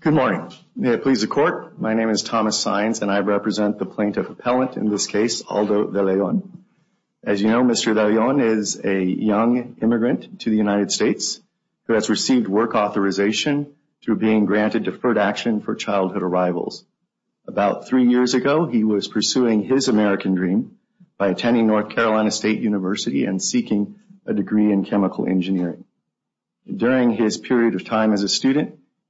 Good morning. May it please the court, my name is Thomas Saenz and I represent the plaintiff appellant in this case Aldo De Leon. As you know Mr. De Leon is a young immigrant to the United States who has received work authorization through being granted deferred action for childhood arrivals. About three years ago he was pursuing his American dream by attending North Carolina State University and seeking a degree in chemical engineering. During his period of time as a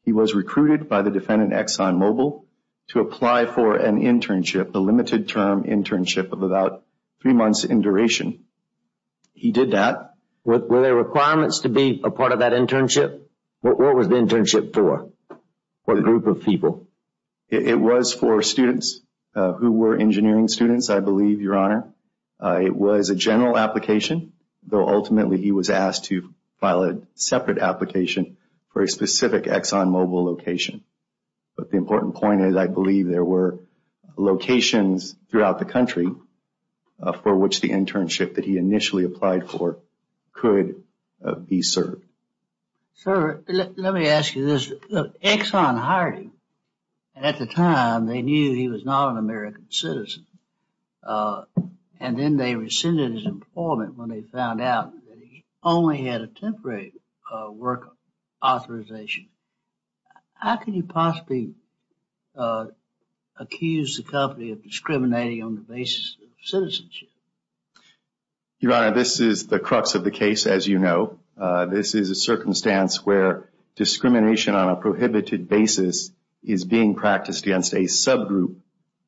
he was recruited by the defendant Exxon Mobil to apply for an internship, a limited term internship of about three months in duration. He did that. Were there requirements to be a part of that internship? What was the internship for? What group of people? It was for students who were engineering students I believe your honor. It was a general application though location but the important point is I believe there were locations throughout the country for which the internship that he initially applied for could be served. Sir let me ask you this. Exxon hired him and at the time they knew he was not an American citizen and then they rescinded his employment when they found out that he only had a temporary work authorization. How could you possibly accuse the company of discriminating on the basis of citizenship? Your honor this is the crux of the case as you know. This is a circumstance where discrimination on a prohibited basis is being practiced against a subgroup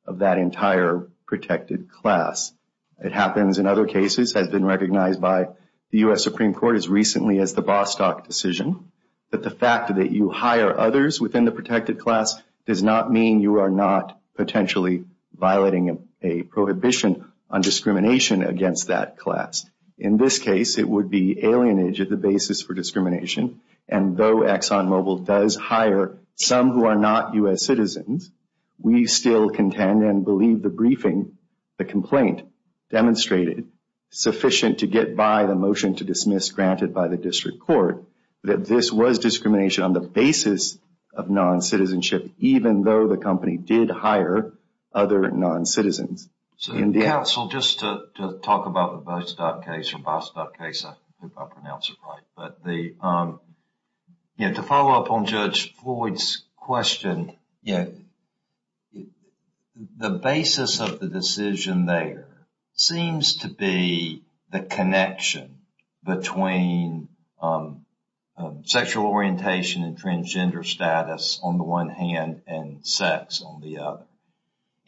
of that entire protected class. It happens in other cases has been recognized by the U.S. Supreme Court as that the fact that you hire others within the protected class does not mean you are not potentially violating a prohibition on discrimination against that class. In this case it would be alienage at the basis for discrimination and though Exxon Mobil does hire some who are not U.S. citizens we still contend and believe the briefing the complaint demonstrated sufficient to get by the motion to dismiss granted by the district court that this was discrimination on the basis of non-citizenship even though the company did hire other non-citizens. So counsel just to talk about the Bostock case I think I pronounced it right but the you know to follow up on Judge Floyd's question you know the basis of the decision there seems to be the connection between sexual orientation and transgender status on the one hand and sex on the other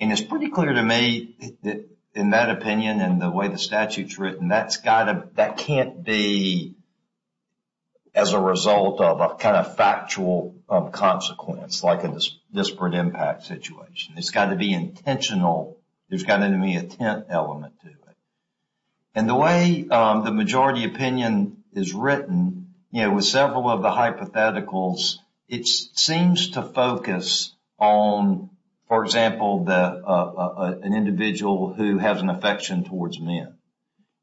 and it's pretty clear to me that in that opinion and the way the statute's written that's gotta that can't be as a result of a kind of factual consequence like a disparate impact situation it's got to be intentional there's got to be a tent element to it and the way the majority opinion is written you know with several of the hypotheticals it seems to focus on for example the an individual who has an affection towards men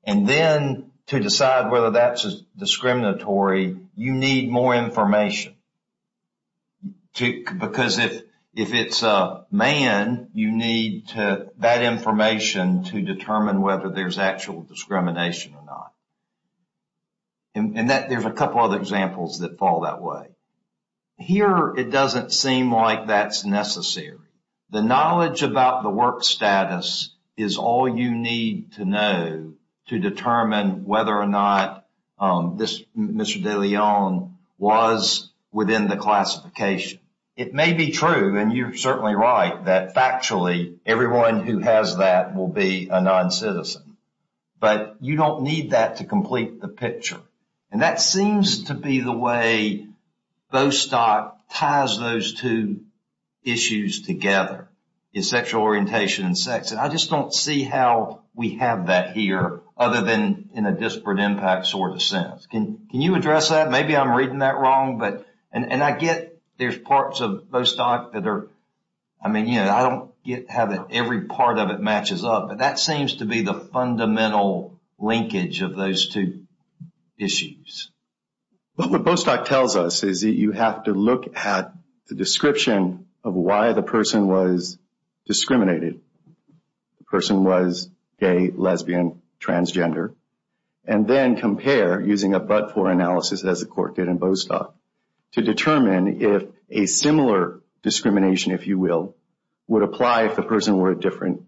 and then to decide whether that's discriminatory you need more information to because if if it's a man you need to that information to determine whether there's actual discrimination or not and that there's a couple other examples that fall that way here it doesn't seem like that's necessary the knowledge about the Mr. De Leon was within the classification it may be true and you're certainly right that factually everyone who has that will be a non-citizen but you don't need that to complete the picture and that seems to be the way Bostock ties those two issues together is sexual orientation and sex and just don't see how we have that here other than in a disparate impact sort of sense can you address that maybe I'm reading that wrong but and I get there's parts of Bostock that are I mean you know I don't get how that every part of it matches up but that seems to be the fundamental linkage of those two issues but what Bostock tells us is that you have to look at the description of why the person was discriminated the person was gay lesbian transgender and then compare using a but-for analysis as the court did in Bostock to determine if a similar discrimination if you will would apply if the person were a different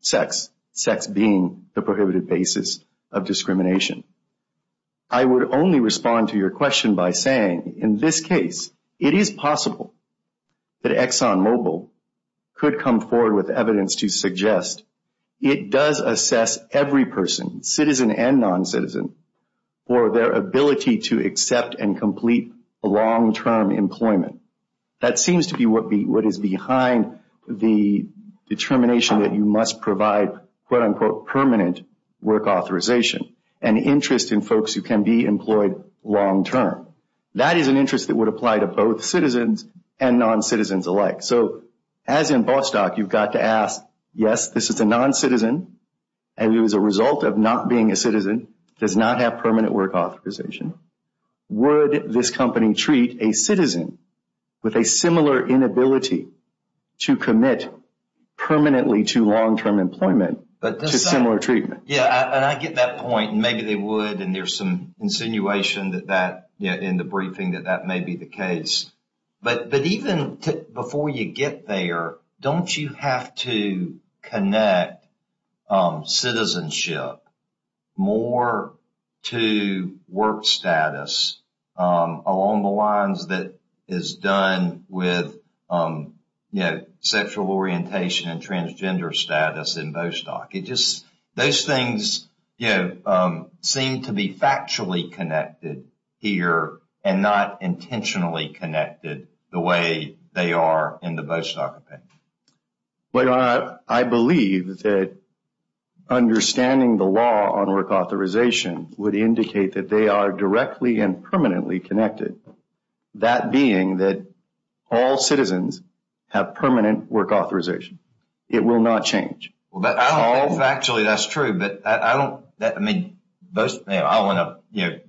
sex sex being the prohibited basis of discrimination I would only respond to your question by saying in this case it is possible that Exxon Mobil could come forward with evidence to suggest it does assess every person citizen and non-citizen for their ability to accept and complete a long-term employment that seems to be what be what is behind the determination that you must provide quote-unquote permanent work authorization and interest in folks who can be employed long-term that is an interest that would apply to both citizens and non-citizens alike so as in Bostock you've got to ask yes this is a non-citizen and it was a result of not being a citizen does not have permanent work authorization would this company treat a citizen with a similar inability to commit permanently to long-term employment but similar treatment yeah and I get that point maybe they would and there's some insinuation that that yeah in the briefing that that may be the case but but even before you get there don't you have to connect citizenship more to work status along the lines that is done with you know sexual orientation and transgender status in Bostock it just those things you know seem to be factually connected here and not intentionally connected the way they are in the Bostock opinion but I believe that understanding the law on work authorization would indicate that they are directly and permanently connected that being that all citizens have permanent work authorization it will not change well but I don't know if actually that's true but I don't that I mean those I want to you know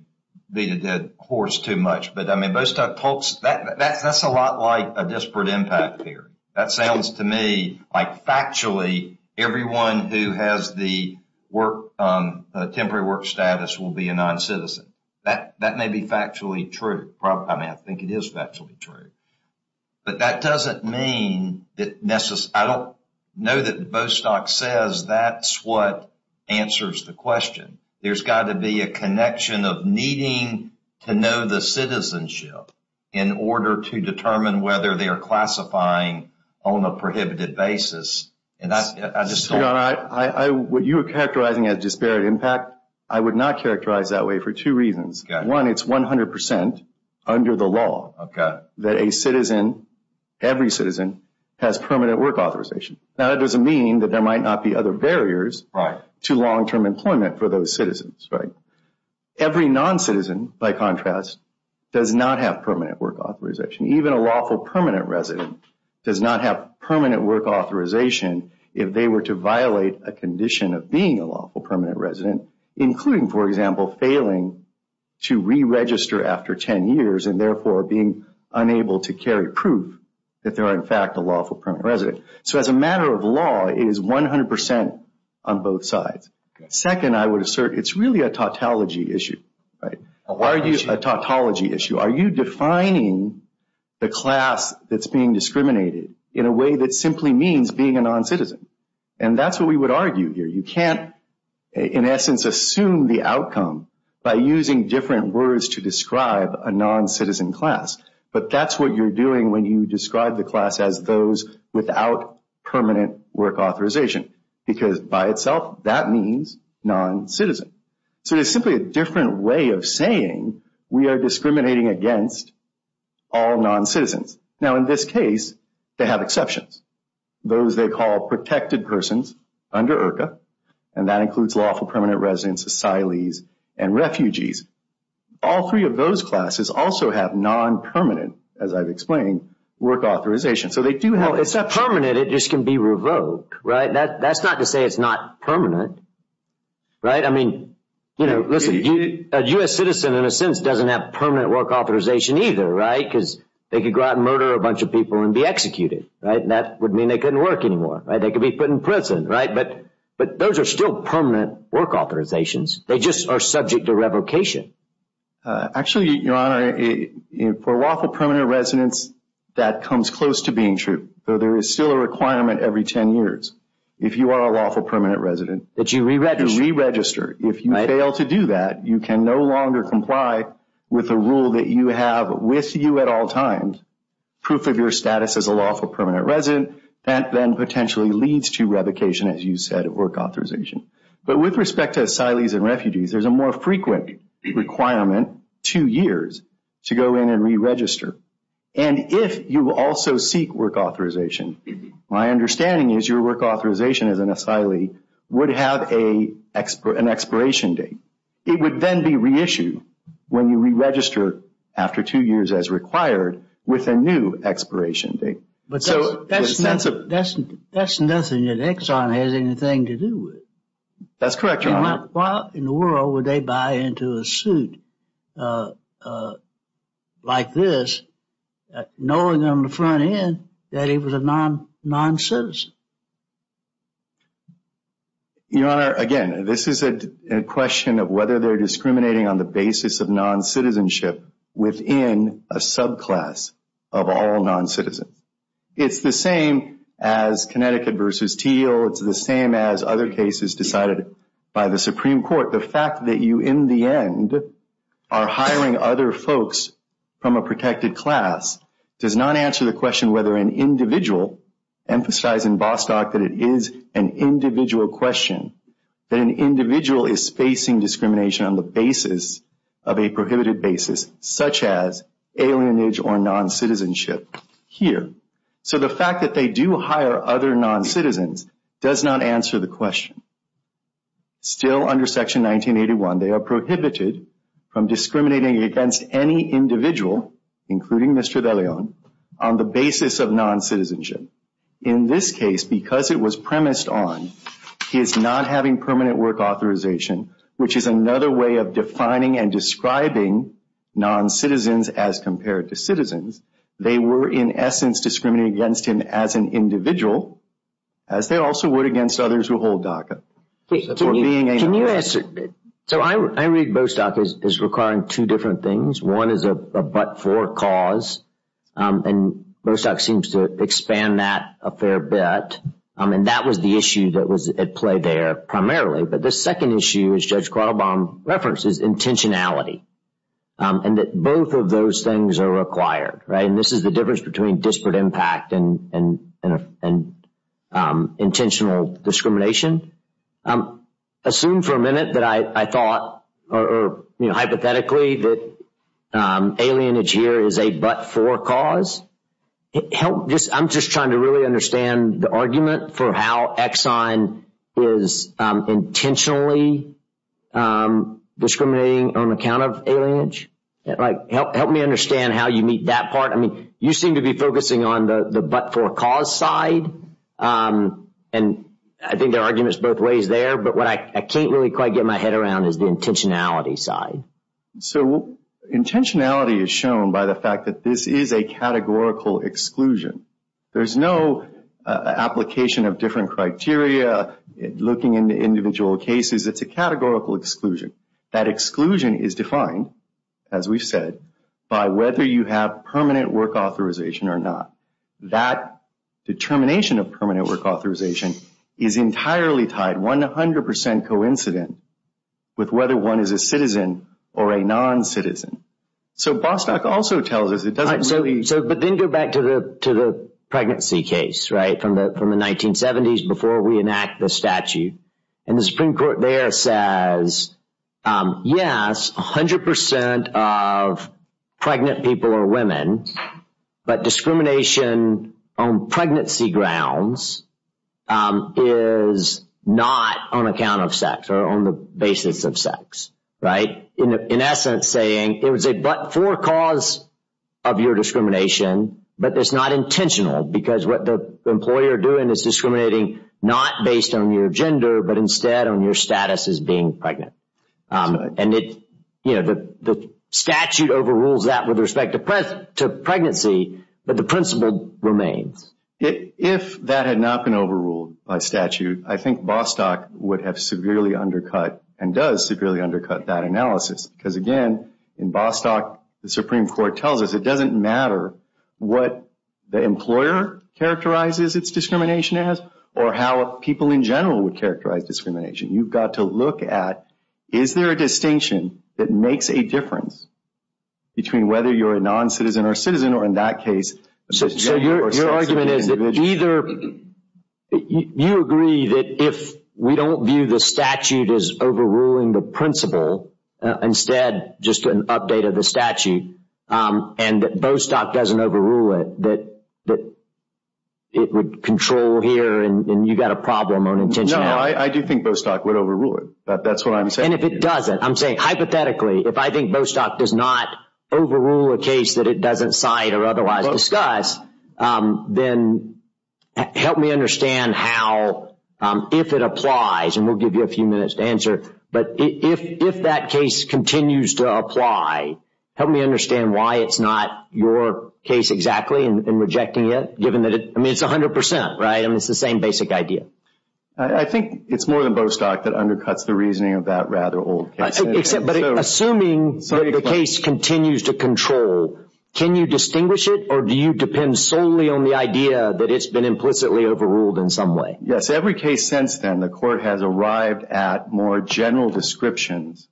beat a dead horse too much but I mean Bostock folks that that's that's a lot like a disparate impact theory that sounds to me like factually everyone who has the work temporary work status will be a non-citizen that that may be factually true probably I mean I think it is actually true but that doesn't mean that necessarily I don't know that Bostock says that's what answers the question there's got to be a connection of needing to know the citizenship in order to determine whether they are classifying on a prohibited basis and that's what you were characterizing as disparate impact I would not characterize that way for two reasons one it's 100 percent under the law okay that a citizen every citizen has permanent work authorization now that doesn't mean that there might not be other barriers right to long-term employment for those citizens right every non-citizen by contrast does not have permanent work authorization even a lawful permanent resident does not have permanent work authorization if they were to violate a condition of being a lawful permanent resident including for example failing to re-register after 10 years and therefore being unable to carry proof that there are in fact a lawful permanent resident so as a matter of law it is 100 on both sides second I would assert it's really a tautology issue right why are you a tautology issue are you defining the class that's being discriminated in a way that simply means being a non-citizen and that's what we would argue here you can't in essence assume the outcome by using different words to describe a non-citizen class but that's what you're doing when you describe the class as those without permanent work authorization because by itself that means non-citizen so it's simply a different way of saying we are discriminating against all non-citizens now in this case they have exceptions those they call protected persons under IRCA and that includes lawful permanent residents asylees and refugees all three of those classes also have non-permanent as I've explained work authorization so they do it's not permanent it just can be revoked right that that's not to say it's not permanent right I mean you know listen a U.S. citizen in a sense doesn't have permanent work authorization either right because they could go out and murder a bunch of people and be executed right that would mean they couldn't work anymore right they could be put in prison right but but those are still permanent work authorizations they just are subject to revocation actually your honor for lawful there is still a requirement every 10 years if you are a lawful permanent resident that you re-register if you fail to do that you can no longer comply with a rule that you have with you at all times proof of your status as a lawful permanent resident that then potentially leads to revocation as you said of work authorization but with respect to asylees and refugees there's a frequent requirement two years to go in and re-register and if you also seek work authorization my understanding is your work authorization as an asylee would have a expert an expiration date it would then be reissued when you re-register after two years as required with a new expiration date but so that's that's that's that's nothing that Exxon has anything to do with that's correct why in the world would they buy into a suit like this knowing on the front end that he was a non-non-citizen your honor again this is a question of whether they're discriminating on the basis of non-citizenship within a subclass of all non-citizens it's the same as Connecticut decided by the Supreme Court the fact that you in the end are hiring other folks from a protected class does not answer the question whether an individual emphasize in Bostock that it is an individual question that an individual is facing discrimination on the basis of a prohibited basis such as alienage or non-citizenship here so the fact that they do hire other non-citizens does not answer the question still under section 1981 they are prohibited from discriminating against any individual including Mr. Deleon on the basis of non-citizenship in this case because it was premised on his not having permanent work authorization which is another way of defining and describing non-citizens as compared to citizens they were in essence discriminating as an individual as they also would against others who hold DACA so I read Bostock is requiring two different things one is a but-for cause and Bostock seems to expand that a fair bit and that was the issue that was at play there primarily but the second issue is Judge Quattlebaum references intentionality and that both of those things are required right this is the difference between disparate impact and intentional discrimination assume for a minute that I thought or you know hypothetically that alienage here is a but-for cause help just I'm just trying to really understand the argument for how Exxon is intentionally discriminating on account of alienage like help me understand how you meet that part I mean you seem to be focusing on the the but-for-cause side and I think there are arguments both ways there but what I can't really quite get my head around is the intentionality side so intentionality is shown by the fact that this is a categorical exclusion there's no application of different criteria looking into individual cases it's a categorical exclusion that exclusion is defined as we've said by whether you have permanent work authorization or not that determination of permanent work authorization is entirely tied 100% coincident with whether one is a citizen or a non-citizen so Bostock also tells us it doesn't really so but then go back to the to the pregnancy case right from the from the 1970s before we enact the statute and the Supreme Court there says yes 100% of pregnant people are women but discrimination on pregnancy grounds is not on account of sex or on the basis of sex right in essence saying it was a but-for cause of your discrimination but it's not intentional because what the employer doing is discriminating not based on your gender but instead on your status as being pregnant and it you know the statute overrules that with respect to pregnancy but the principle remains. If that had not been overruled by statute I think Bostock would have severely undercut and does severely undercut that analysis because again in Bostock the Supreme Court tells us it doesn't matter what the employer characterizes its discrimination as or how people in general would characterize discrimination you've got to look at is there a distinction that makes a difference between whether you're a non-citizen or citizen or in that case so your argument is that either you agree that if we don't view the statute as overruling the principle instead just an update of the statute and that Bostock doesn't overrule it that it would control here and you got a problem on intention. No I do think Bostock would overrule it but that's what I'm saying. And if it doesn't I'm saying hypothetically if I think Bostock does not overrule a case that it doesn't cite or otherwise discuss then help me understand how if it applies and we'll give you a few minutes to answer but if that case continues to apply help me understand why it's not your case exactly and rejecting it given that it I mean it's 100% right I mean it's the same basic idea. I think it's more than Bostock that undercuts the reasoning of that rather old case. But assuming the case continues to control can you distinguish it or do you depend solely on the idea that it's been implicitly overruled in some way? Yes every case since then the court has arrived at more general descriptions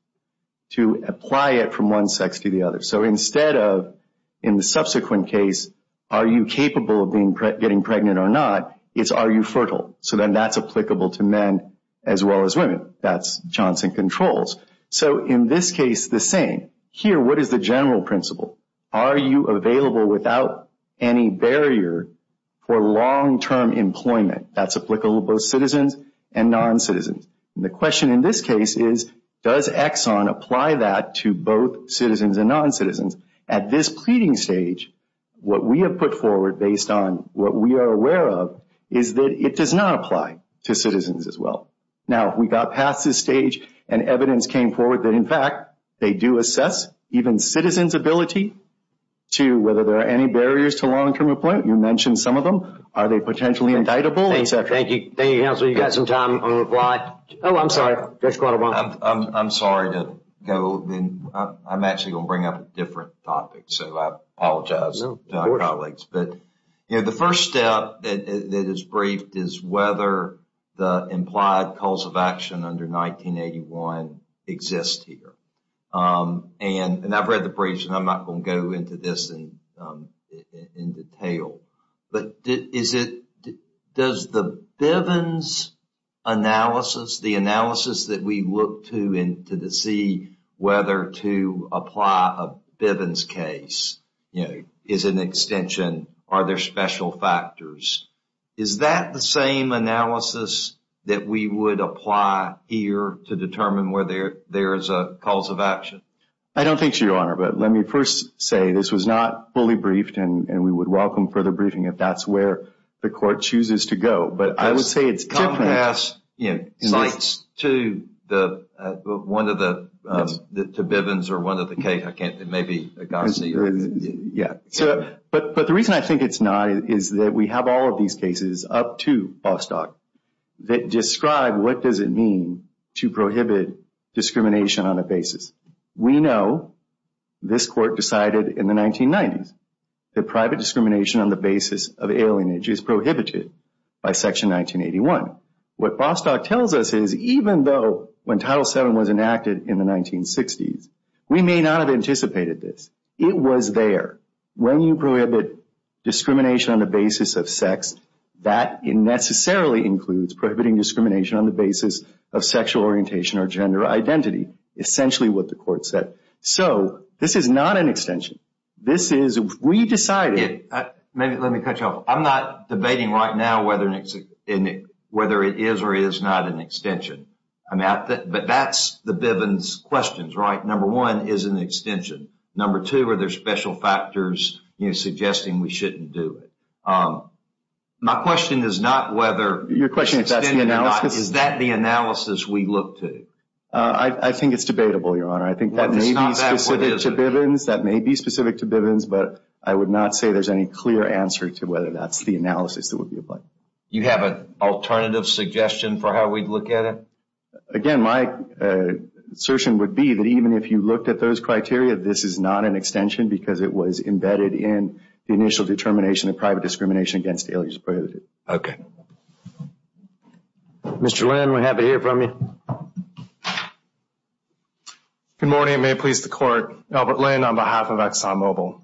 to apply it from one sex to the other so instead of in the subsequent case are you capable of being getting pregnant or not it's are you fertile so then that's applicable to men as well as women that's Johnson controls. So in this the same here what is the general principle are you available without any barrier for long-term employment that's applicable to both citizens and non-citizens. The question in this case is does Exxon apply that to both citizens and non-citizens at this pleading stage what we have put forward based on what we are aware of is that it does not apply to citizens as well. Now we got past this stage and evidence came forward that in fact they do assess even citizens ability to whether there are any barriers to long-term employment you mentioned some of them are they potentially indictable etc. Thank you thank you counsel you got some time on the fly oh I'm sorry Judge Guadalbana. I'm sorry to go then I'm actually going to bring up a different topic so I apologize to my colleagues but you know the first step that is briefed is whether the implied cause of action under 1981 exists here and I've read the briefs and I'm not going to go into this in detail but is it does the Bivens analysis the analysis that we look to in to see whether to apply a Bivens case you know is an extension are there special factors is that the same analysis that we would apply here to determine whether there is a cause of action? I don't think so your honor but let me first say this was not fully briefed and we would welcome further briefing if that's where the court chooses to go but I would say it's compass you know sites to the one of the the Bivens or one of the case I can't maybe yeah so but but the reason I think it's not is that we have all of these cases up to Bostock that describe what does it mean to prohibit discrimination on a basis we know this court decided in the 1990s that private discrimination on the basis of alienage is prohibited by section 1981 what Bostock tells us is even though when title 7 was enacted in the 1960s we may not have anticipated this it was there when you prohibit discrimination on the basis of sex that it necessarily includes prohibiting discrimination on the basis of sexual orientation or gender identity essentially what the court said so this is not an extension this is we decided maybe let me cut you off I'm not debating right now whether it's in whether it is or is not an extension I'm at that but that's the Bivens questions right number one is an extension number two are there special factors you know suggesting we shouldn't do it my question is not whether your question is that the analysis we look to uh I think it's debatable your honor I think that may be specific to Bivens that may be specific to Bivens but I would not say there's any clear answer to whether that's the analysis that would be applied you have an alternative suggestion for how we'd look at it again my assertion would be that even if you looked at those criteria this is not an extension because it was embedded in the initial determination of private discrimination against alias prohibited okay Mr. Lynn we have a ear from you good morning may it please the court Albert Lynn on behalf of Exxon Mobil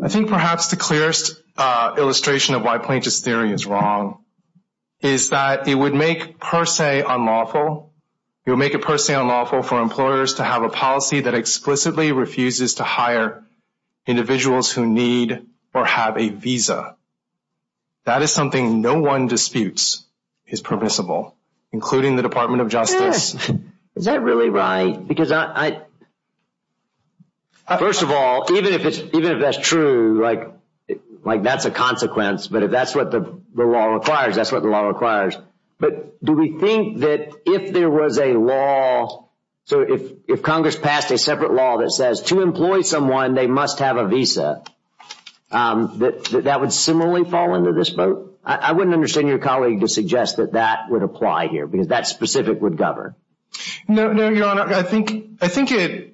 I think perhaps the clearest uh illustration of why plaintiff's theory is wrong is that it would make per se unlawful it would make it per se unlawful for employers to have a need or have a visa that is something no one disputes is permissible including the department of justice is that really right because I first of all even if it's even if that's true like like that's a consequence but if that's what the law requires that's what the law requires but do we think that if there was a law so if if congress passed a separate law that says to um that that would similarly fall into this boat I wouldn't understand your colleague to suggest that that would apply here because that specific would govern no no your honor I think I think it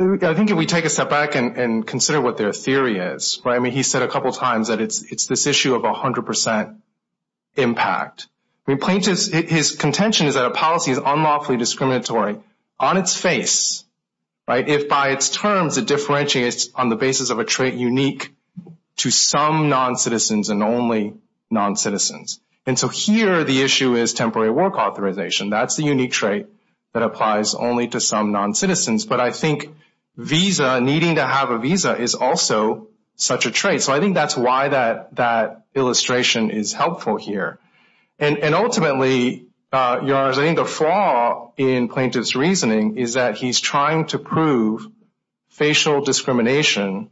I think if we take a step back and consider what their theory is right I mean he said a couple times that it's it's this issue of a hundred percent impact we plaintiffs his contention is that a policy is unlawfully discriminatory on its face right if by its terms it differentiates on the basis of a trait unique to some non-citizens and only non-citizens and so here the issue is temporary work authorization that's the unique trait that applies only to some non-citizens but I think visa needing to have a visa is also such a trait so I think that's why that that illustration is helpful here and and ultimately uh yours I think the flaw in plaintiffs reasoning is that he's trying to prove facial discrimination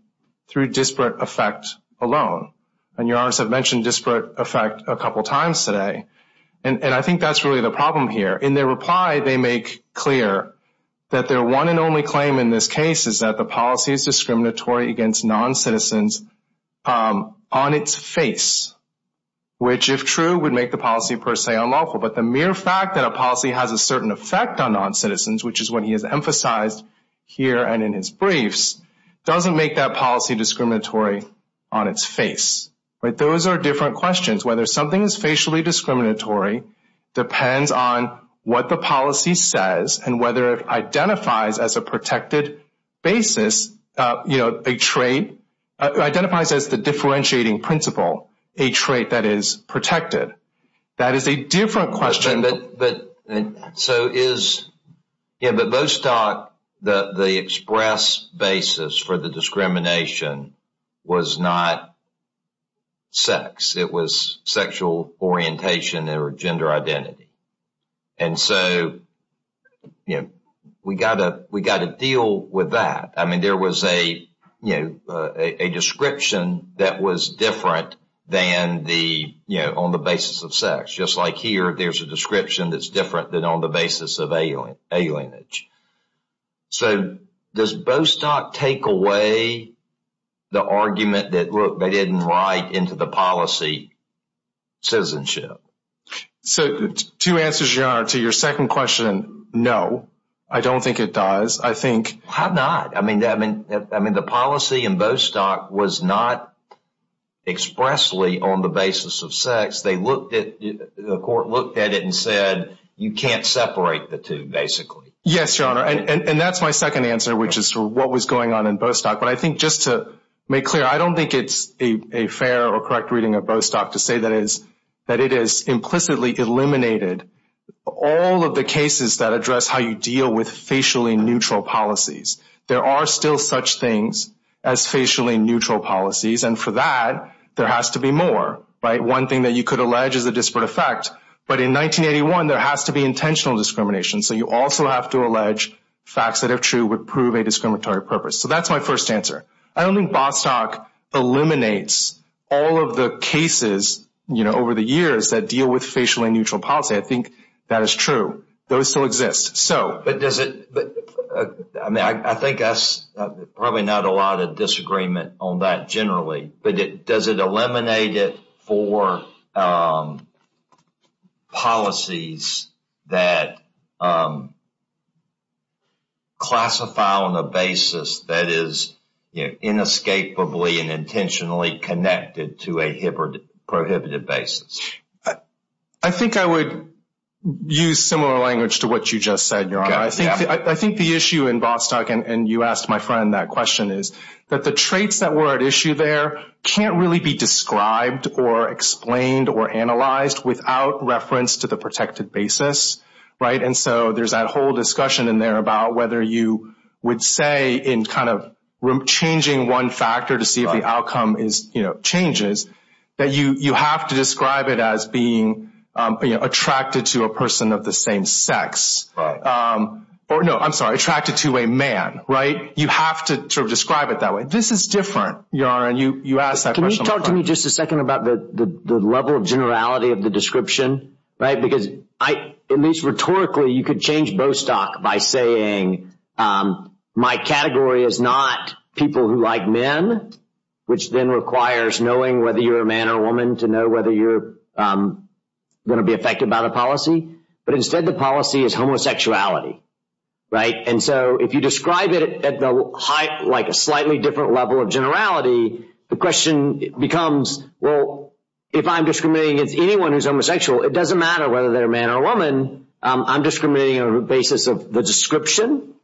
through disparate effect alone and your honors have mentioned disparate effect a couple times today and and I think that's really the problem here in their reply they make clear that their one and only claim in this case is that the policy is discriminatory against non-citizens um on its face which if true would make the policy per se unlawful but the mere fact that a policy has a certain effect on non-citizens which is what he has emphasized here and in his briefs doesn't make that policy discriminatory on its face right those are different questions whether something is facially discriminatory depends on what the policy says and whether it identifies as a protected basis uh you know a trait identifies as the differentiating principle a trait that is protected that is a different question but but so is yeah but those talk the the express basis for the discrimination was not sex it was sexual orientation or gender identity and so you know we gotta we gotta deal with that I mean there was a you know a description that was different than the you know on the basis of sex just like here there's a description that's different than on the basis of alien alienage so does bostock take away the argument that look they didn't write into the policy citizenship so two answers your honor to your second question no I don't think it does I think have not I mean I mean I mean the policy in bostock was not expressly on the basis of sex they looked at the court looked at it and said you can't separate the two basically yes your honor and and that's my second answer which is what was going on in bostock but I think just to make clear I don't think it's a a fair or correct reading of bostock to say that is that it is implicitly eliminated all of the cases that address how you deal with facially neutral policies there are still such things as facially neutral policies and for that there has to be more right one thing that you could allege is a disparate effect but in 1981 there has to be intentional discrimination so you also have to allege facts that are true would prove a discriminatory purpose so that's my first answer I don't think bostock eliminates all of the cases you know over the years that deal with facially neutral policy I think that is true those still so but does it I mean I think that's probably not a lot of disagreement on that generally but it does it eliminate it for um policies that um classify on a basis that is you know inescapably and intentionally connected to a hybrid prohibitive basis I think I would use similar language to what you just said your honor I think I think the issue in bostock and you asked my friend that question is that the traits that were at issue there can't really be described or explained or analyzed without reference to the protected basis right and so there's that whole discussion in there about whether you would say in kind of changing one the same sex or no I'm sorry attracted to a man right you have to sort of describe it that way this is different your honor and you you ask that can you talk to me just a second about the the level of generality of the description right because I at least rhetorically you could change bostock by saying um my category is not people who like men which then requires knowing whether you're a man or a woman to know whether you're going to be affected by the policy but instead the policy is homosexuality right and so if you describe it at the height like a slightly different level of generality the question becomes well if I'm discriminating against anyone who's homosexual it doesn't matter whether they're a man or a woman I'm discriminating on the basis of the description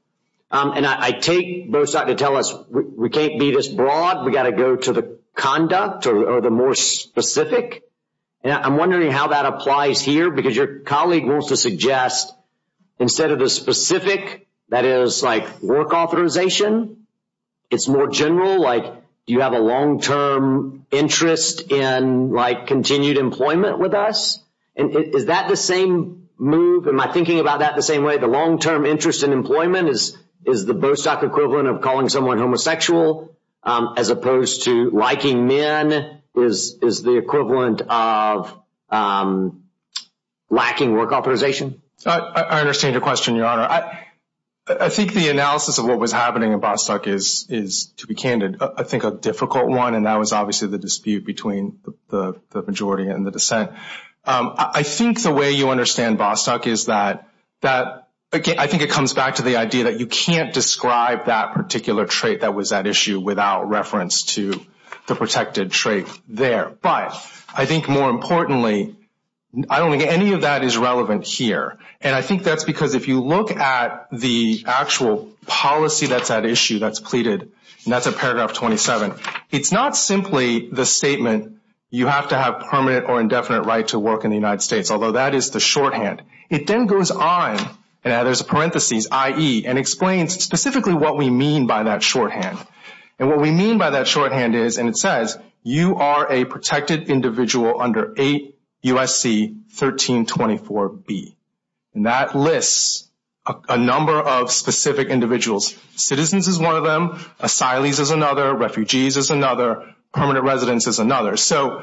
and I take bostock to tell us we can't be this broad we got to go to the conduct or the more specific and I'm wondering how that applies here because your colleague wants to suggest instead of the specific that is like work authorization it's more general like do you have a long-term interest in like continued employment with us and is that the same move am I thinking about that the same way the long-term interest in employment is is the men is is the equivalent of um lacking work authorization I understand your question your honor I I think the analysis of what was happening in bostock is is to be candid I think a difficult one and that was obviously the dispute between the the majority and the dissent um I think the way you understand bostock is that that again I think it comes back to the idea that you can't describe that particular trait that was at issue without reference to the protected trait there but I think more importantly I don't think any of that is relevant here and I think that's because if you look at the actual policy that's at issue that's pleaded and that's a paragraph 27 it's not simply the statement you have to have permanent or indefinite right to work in the United States although that is the shorthand it then goes on and there's a parentheses ie and explains specifically what we mean by that shorthand and what we mean by that shorthand is and it says you are a protected individual under 8 usc 1324 b and that lists a number of specific individuals citizens is one of them asylees is another refugees is another permanent residence is another so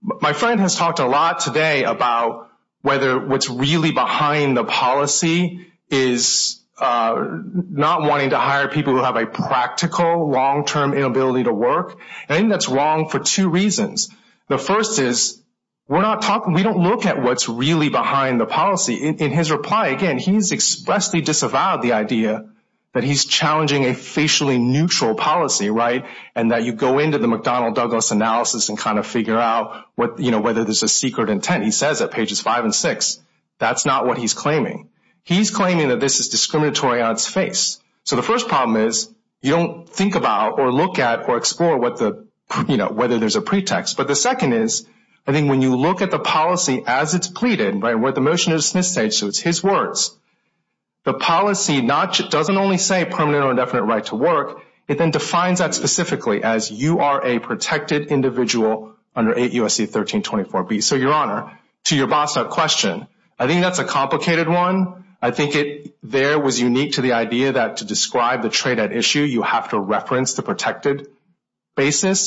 my friend has talked a lot today about whether what's really behind the policy is not wanting to hire people who have a practical long-term inability to work and that's wrong for two reasons the first is we're not talking we don't look at what's really behind the policy in his reply again he's expressly disavowed the idea that he's challenging a facially neutral policy right and that you go into the mcdonald douglas analysis and kind of figure out what you know whether there's a secret intent he says at pages five and six that's not what he's claiming he's claiming that this is discriminatory on its face so the first problem is you don't think about or look at or explore what the you know whether there's a pretext but the second is i think when you look at the policy as it's pleaded right where the motion is dismissed so it's his words the policy not doesn't only say permanent or indefinite right to work it then defines that specifically as you are a protected individual under 8 usc 1324 b so your honor to your boss question i think that's a complicated one i think it there was unique to the idea that to describe the trade at issue you have to reference the protected basis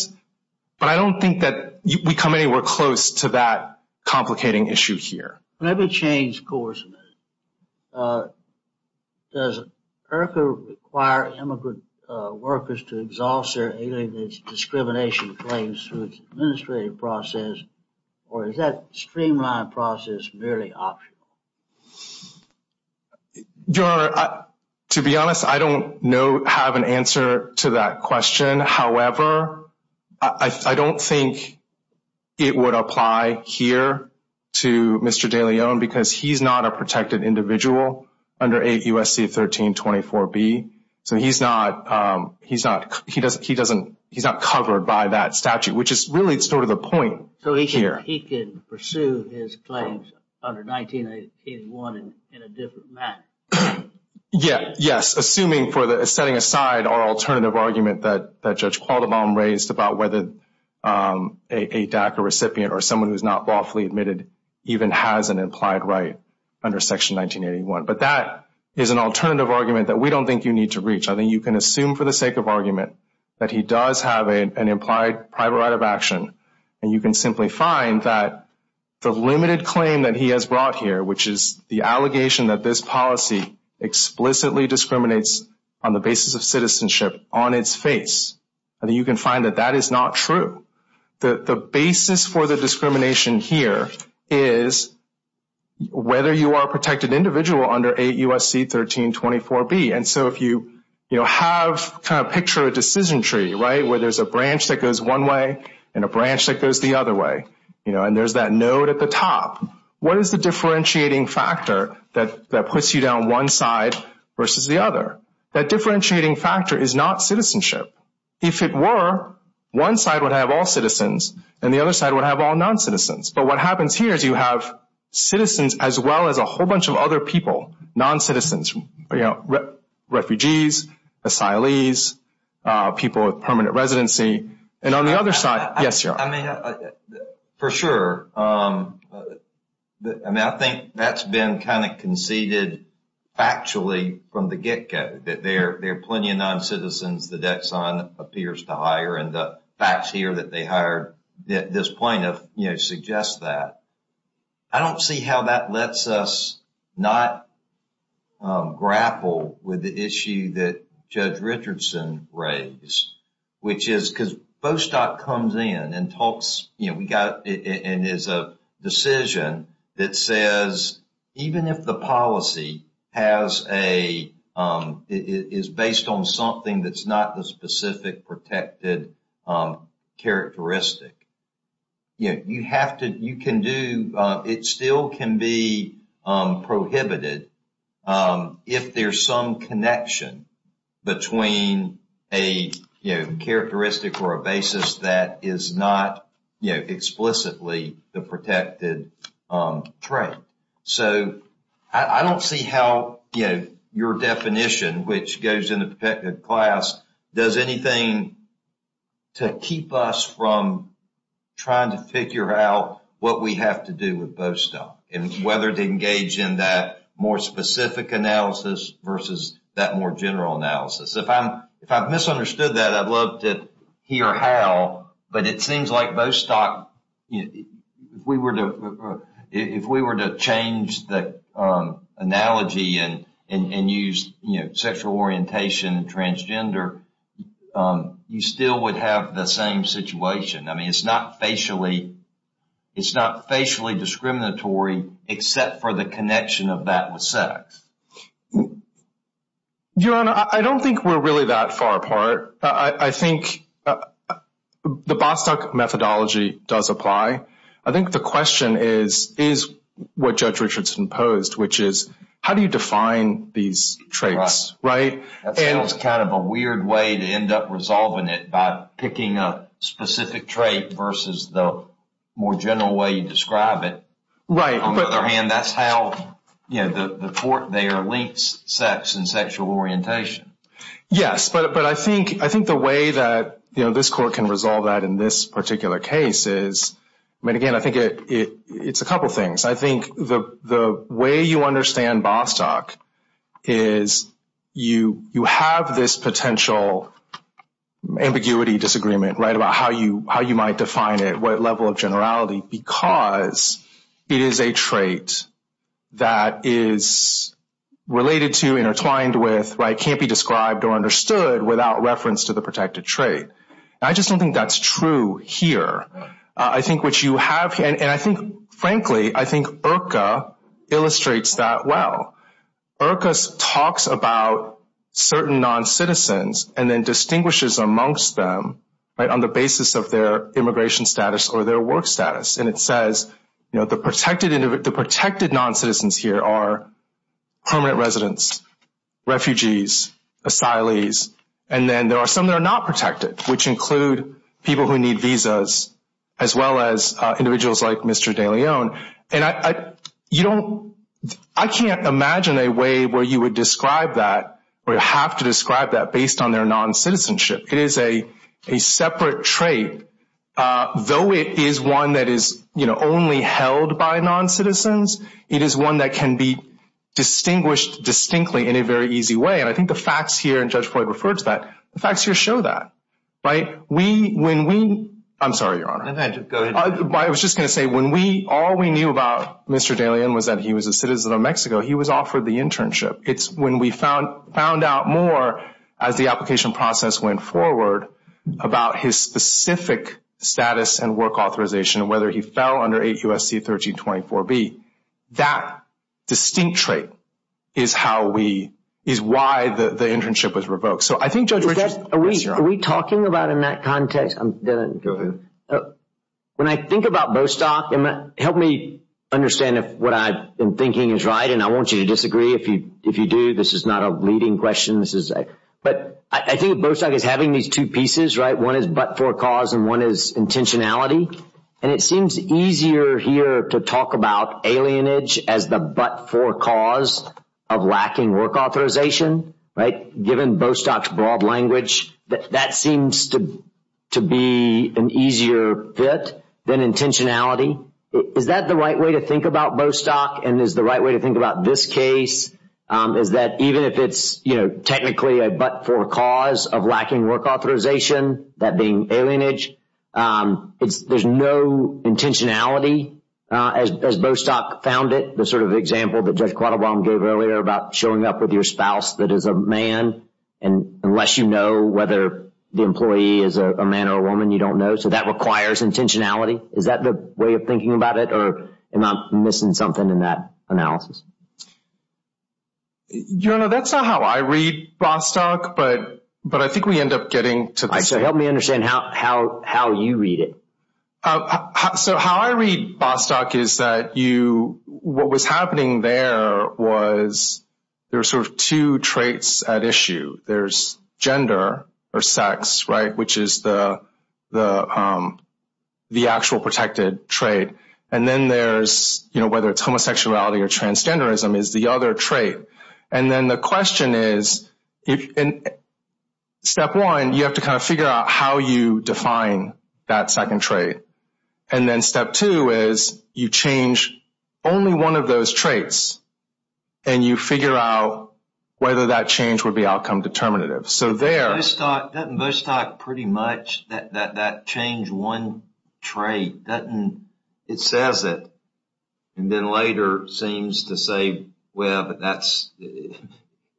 but i don't think that we come anywhere close to that complicating issue here let me change course does erica require immigrant workers to exhaust their alien discrimination claims through its administrative process or is that streamlined process merely optional your to be honest i don't know have an answer to that question however i i don't think it would apply here to mr de leon because he's not a protected individual under 8 usc 1324 b so he's not um he's not he doesn't he doesn't he's not covered by that statute which is really sort of the point so he's here he can pursue his claims under 1981 in a different manner yeah yes assuming for the setting aside our alternative argument that that judge a recipient or someone who's not lawfully admitted even has an implied right under section 1981 but that is an alternative argument that we don't think you need to reach i think you can assume for the sake of argument that he does have an implied private right of action and you can simply find that the limited claim that he has brought here which is the allegation that this policy explicitly discriminates on the basis of citizenship on its face and you can find that that is not true the the basis for the discrimination here is whether you are protected individual under 8 usc 1324 b and so if you you know have kind of picture a decision tree right where there's a branch that goes one way and a branch that goes the other way you know and there's that node at the top what is the differentiating factor that that puts you down one side versus the other that differentiating factor is not citizenship if it were one side would have all citizens and the other side would have all non-citizens but what happens here is you have citizens as well as a whole bunch of other people non-citizens you know refugees asylees people with permanent residency and on the other side yes i mean for sure um i mean i think that's been kind of conceded actually from the get-go that there there are plenty of non-citizens the debt sign appears to hire and the facts here that they hired that this point of you know suggests that i don't see how that lets us not grapple with the issue that judge richardson raised which is because bostock comes in and it says even if the policy has a is based on something that's not the specific protected characteristic you know you have to you can do it still can be prohibited if there's some connection between a you know characteristic or a basis that is not you know explicitly the protected trade so i don't see how you know your definition which goes in the protected class does anything to keep us from trying to figure out what we have to do with bostock and whether to engage in that more specific analysis versus that more general analysis if i'm if i've if we were to if we were to change the analogy and and use you know sexual orientation and transgender you still would have the same situation i mean it's not facially it's not facially discriminatory except for the connection of that with sex um your honor i don't think we're really that far apart i i think the bostock methodology does apply i think the question is is what judge richardson posed which is how do you define these traits right that's kind of a weird way to end up resolving it by picking a specific trait versus the more general way you describe it right on the other hand that's how you know the the port they are linked sex and sexual orientation yes but but i think i think the way that you know this court can resolve that in this particular case is i mean again i think it it it's a couple things i think the the way you understand bostock is you you have this potential ambiguity disagreement right about how you how you might define it what level of generality because it is a trait that is related to intertwined with right can't be described or understood without reference to the protected trait i just don't think that's true here i think what you have and i think frankly i think urca illustrates that well urcas talks about certain non-citizens and then distinguishes amongst them right on the basis of their immigration status or their work status and it says you know the protected the protected non-citizens here are permanent residents refugees asylees and then there are some that are not protected which include people who need visas as well as uh individuals like mr de leon and i i you don't i can't imagine a way where you would describe that or have to describe that based on their non-citizenship it is a separate trait uh though it is one that is you know only held by non-citizens it is one that can be distinguished distinctly in a very easy way and i think the facts here and judge point referred to that the facts here show that right we when we i'm sorry your honor i was just going to say when we all we knew about mr de leon was that he was a citizen of mexico he was offered the internship it's when we found found out more as the application process went forward about his specific status and work authorization whether he fell under 8 usc 1324 b that distinct trait is how we is why the the internship was revoked so i think judge are we talking about in that context i'm gonna go ahead when i think about bostock and help me understand if what i've thinking is right and i want you to disagree if you if you do this is not a leading question this is a but i think bostock is having these two pieces right one is but for cause and one is intentionality and it seems easier here to talk about alienage as the but for cause of lacking work authorization right given bostock's broad language that seems to to be an easier fit than intentionality is that the right way to think about bostock and is the right way to think about this case um is that even if it's you know technically a but for cause of lacking work authorization that being alienage um it's there's no intentionality uh as bostock found it the sort of example that judge quattlebaum gave earlier about showing up with your spouse that is a man and unless you know whether the employee is a man or a woman you don't know so that requires intentionality is that the way of thinking about it or am i missing something in that analysis you know that's not how i read bostock but but i think we end up getting to this so help me understand how how how you read it so how i read bostock is that you what was happening there was sort of two traits at issue there's gender or sex right which is the the um the actual protected trait and then there's you know whether it's homosexuality or transgenderism is the other trait and then the question is if in step one you have to kind of figure out how you define that second trait and then step two is you change only one of those traits and you figure out whether that change would be outcome determinative so there i start that most talk pretty much that that that change one trait doesn't it says it and then later seems to say well but that's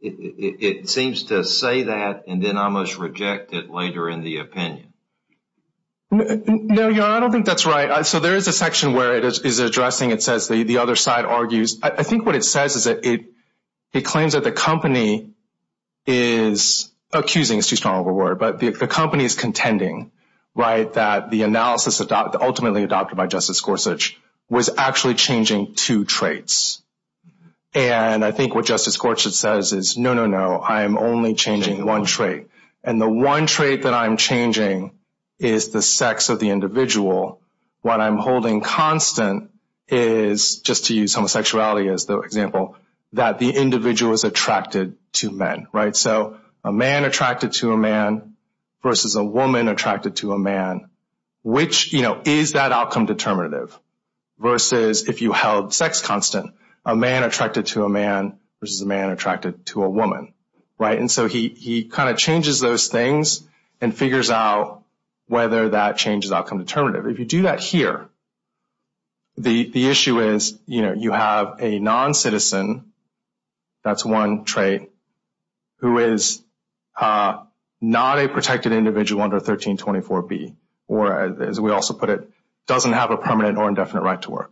it seems to say that and then almost reject it later in the opinion no you know i don't think that's right so there is a section where it is addressing it says the the other side argues i think what it says is that it it claims that the company is accusing it's too strong of a word but the company is contending right that the analysis adopted ultimately adopted by justice gorsuch was actually changing two traits and i think what justice says is no no no i am only changing one trait and the one trait that i'm changing is the sex of the individual what i'm holding constant is just to use homosexuality as the example that the individual is attracted to men right so a man attracted to a man versus a woman attracted to a man which you know is that outcome determinative versus if you held sex constant a man attracted to a man versus a man attracted to a woman right and so he he kind of changes those things and figures out whether that changes outcome determinative if you do that here the the issue is you know you have a non-citizen that's one trait who is not a protected individual under 1324b or as we also put it doesn't have a permanent or indefinite right to work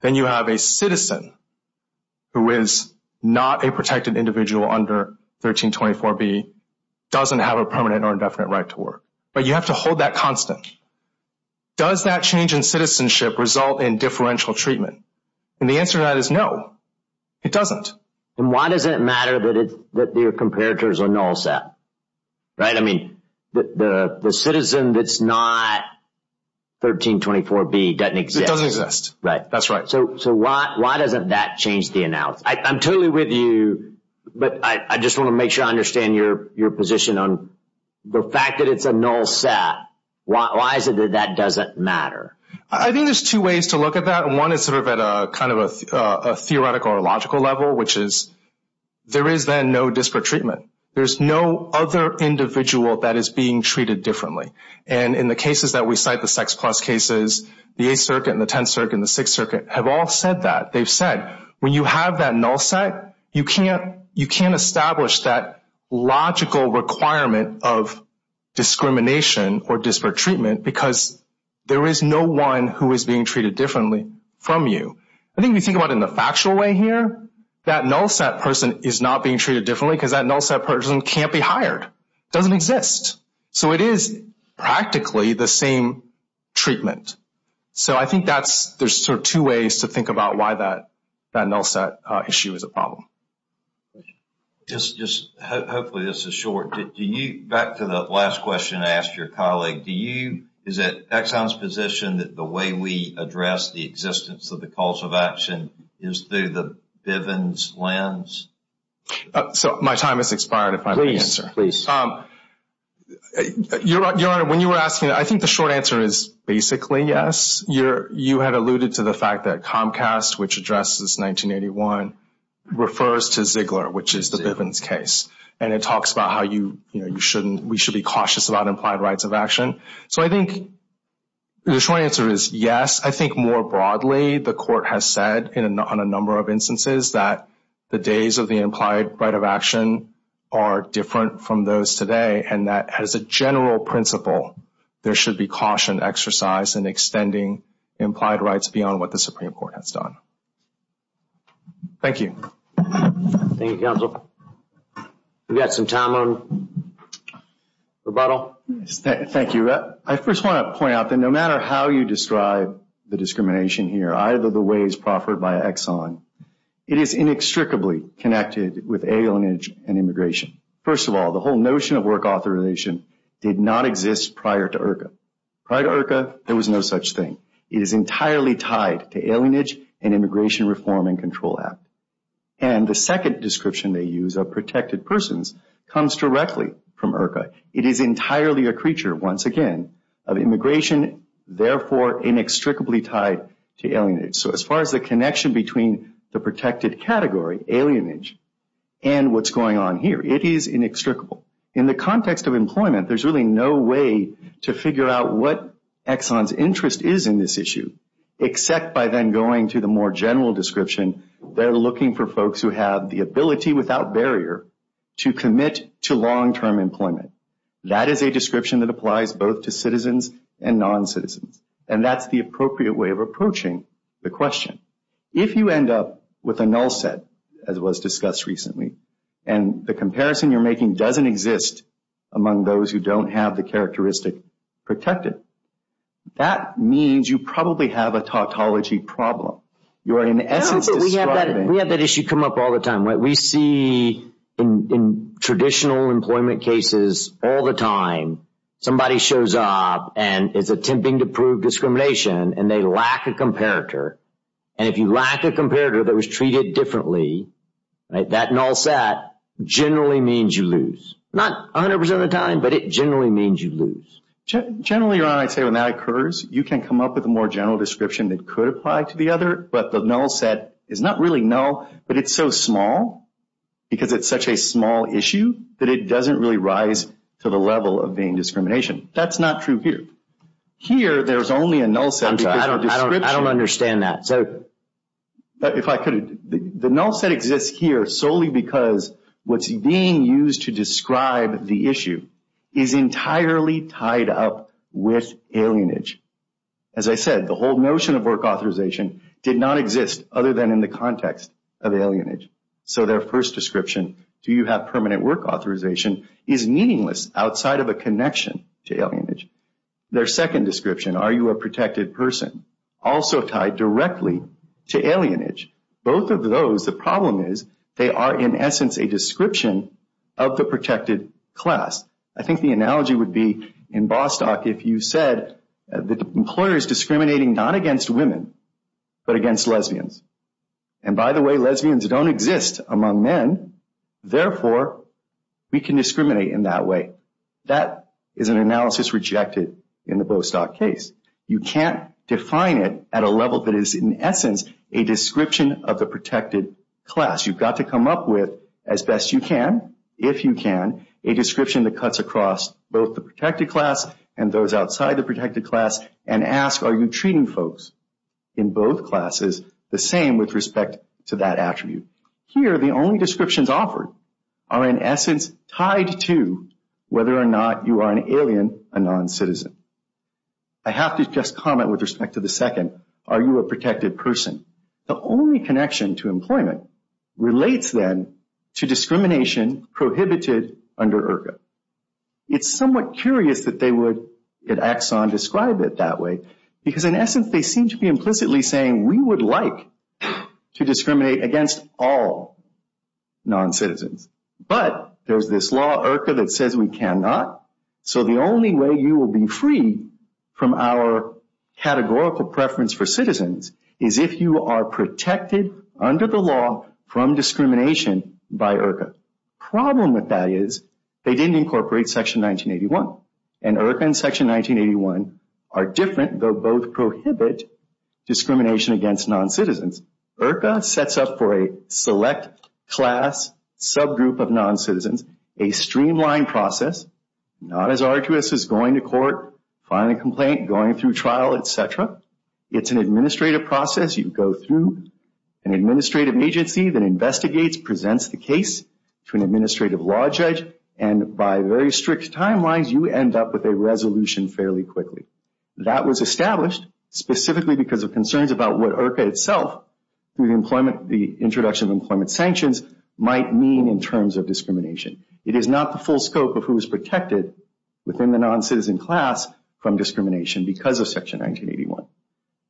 then you have a citizen who is not a protected individual under 1324b doesn't have a permanent or indefinite right to work but you have to hold that constant does that change in citizenship result in differential treatment and the answer to that is no it doesn't and why does it matter that it that your comparators are null set right i mean the the citizen that's not 1324b doesn't exist right that's right so so why why doesn't that change the analysis i'm totally with you but i i just want to make sure i understand your your position on the fact that it's a null set why is it that that doesn't matter i think there's two ways to look at that one is sort of at a kind of a a theoretical or logical level which is there is then no disparate treatment there's no other individual that is being treated differently and in the cases that we cite the sex plus cases the eighth circuit and the tenth circuit and the sixth circuit have all said that they've said when you have that null set you can't you can't establish that logical requirement of discrimination or disparate treatment because there is no one who is being treated differently from you i think we think about in the factual way here that null set is not being treated differently because that null set person can't be hired doesn't exist so it is practically the same treatment so i think that's there's sort of two ways to think about why that that null set issue is a problem just just hopefully this is short do you back to the last question i asked your colleague do you is it exxon's position that the way we address the uh so my time has expired if i answer please um your your honor when you were asking i think the short answer is basically yes you're you had alluded to the fact that comcast which addresses 1981 refers to ziggler which is the bivens case and it talks about how you you know you shouldn't we should be cautious about implied rights of action so i think the short answer is yes i think more broadly the court has said in a number of instances that the days of the implied right of action are different from those today and that as a general principle there should be caution exercise and extending implied rights beyond what the supreme court has done thank you thank you we've got some time on rebuttal thank you i first want to point out that no matter how you describe the discrimination here either the ways proffered by exxon it is inextricably connected with alienage and immigration first of all the whole notion of work authorization did not exist prior to irka prior to irka there was no such thing it is entirely tied to alienage and immigration reform and control act and the second description they use of protected persons comes directly from irka it is entirely a creature once again of immigration therefore inextricably tied to alienage so as far as the connection between the protected category alienage and what's going on here it is inextricable in the context of employment there's really no way to figure out what exxon's interest is in this issue except by then going to the more general description they're looking for folks who have the ability without barrier to commit to long-term employment that is a description that applies both to citizens and non-citizens and that's the appropriate way of approaching the question if you end up with a null set as was discussed recently and the comparison you're making doesn't exist among those who don't have the characteristic protected that means you probably have a tautology problem you're in essence we have that we have that issue come up all the time right we see in in traditional employment cases all the time somebody shows up and is attempting to prove discrimination and they lack a comparator and if you lack a comparator that was treated differently right that null set generally means you lose not 100 percent of the time but it generally means you lose generally your honor i'd say when that occurs you can come up with a more general description that could apply to the other but the null set is not really null but it's so small because it's such a small issue that it doesn't really rise to the level of being discrimination that's not true here here there's only a null set i don't i don't understand that so if i could the null set exists here solely because what's being used to describe the issue is entirely tied up with alienage as i said the whole notion of work authorization did not exist other than in the context of alienage so their first description do you have permanent work authorization is meaningless outside of a connection to alienage their second description are you a protected person also tied directly to alienage both of those the problem is they are in essence a description of the protected class i think the analogy would be in bostock if you said that the employer is discriminating not against women but against lesbians and by the way lesbians don't exist among men therefore we can discriminate in that way that is an analysis rejected in the bostock case you can't define it at a level that is in essence a description of the protected class you've got to come up with as best you can if you can a description that cuts across both the protected class and those outside the protected class and ask are you treating folks in both classes the same with respect to that attribute here the only descriptions offered are in essence tied to whether or not you are an alien a non-citizen i have to just comment with respect to the second are you a protected person the only connection to employment relates then to discrimination prohibited under irka it's somewhat curious that they would at axon describe it that way because in essence they seem to be implicitly saying we would like to discriminate against all non-citizens but there's this law irka that says we cannot so the only way you will be free from our categorical preference for citizens is if you are protected under the law from discrimination by irka problem with that is they didn't incorporate section 1981 and irka and section 1981 are different though both prohibit discrimination against non-citizens irka sets up for a select class subgroup of non-citizens a streamlined process not as going through trial etc it's an administrative process you go through an administrative agency that investigates presents the case to an administrative law judge and by very strict timelines you end up with a resolution fairly quickly that was established specifically because of concerns about what irka itself through the employment the introduction of employment sanctions might mean in terms of discrimination it is not the full scope of who because of section 1981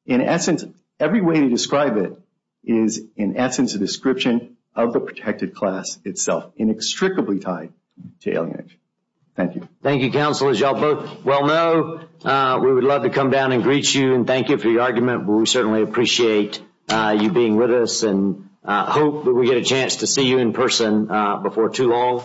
in essence every way to describe it is in essence a description of the protected class itself inextricably tied to alienation thank you thank you counsel as y'all both well know uh we would love to come down and greet you and thank you for your argument we certainly appreciate uh you being with us and uh hope that we get a chance to see you in person before too long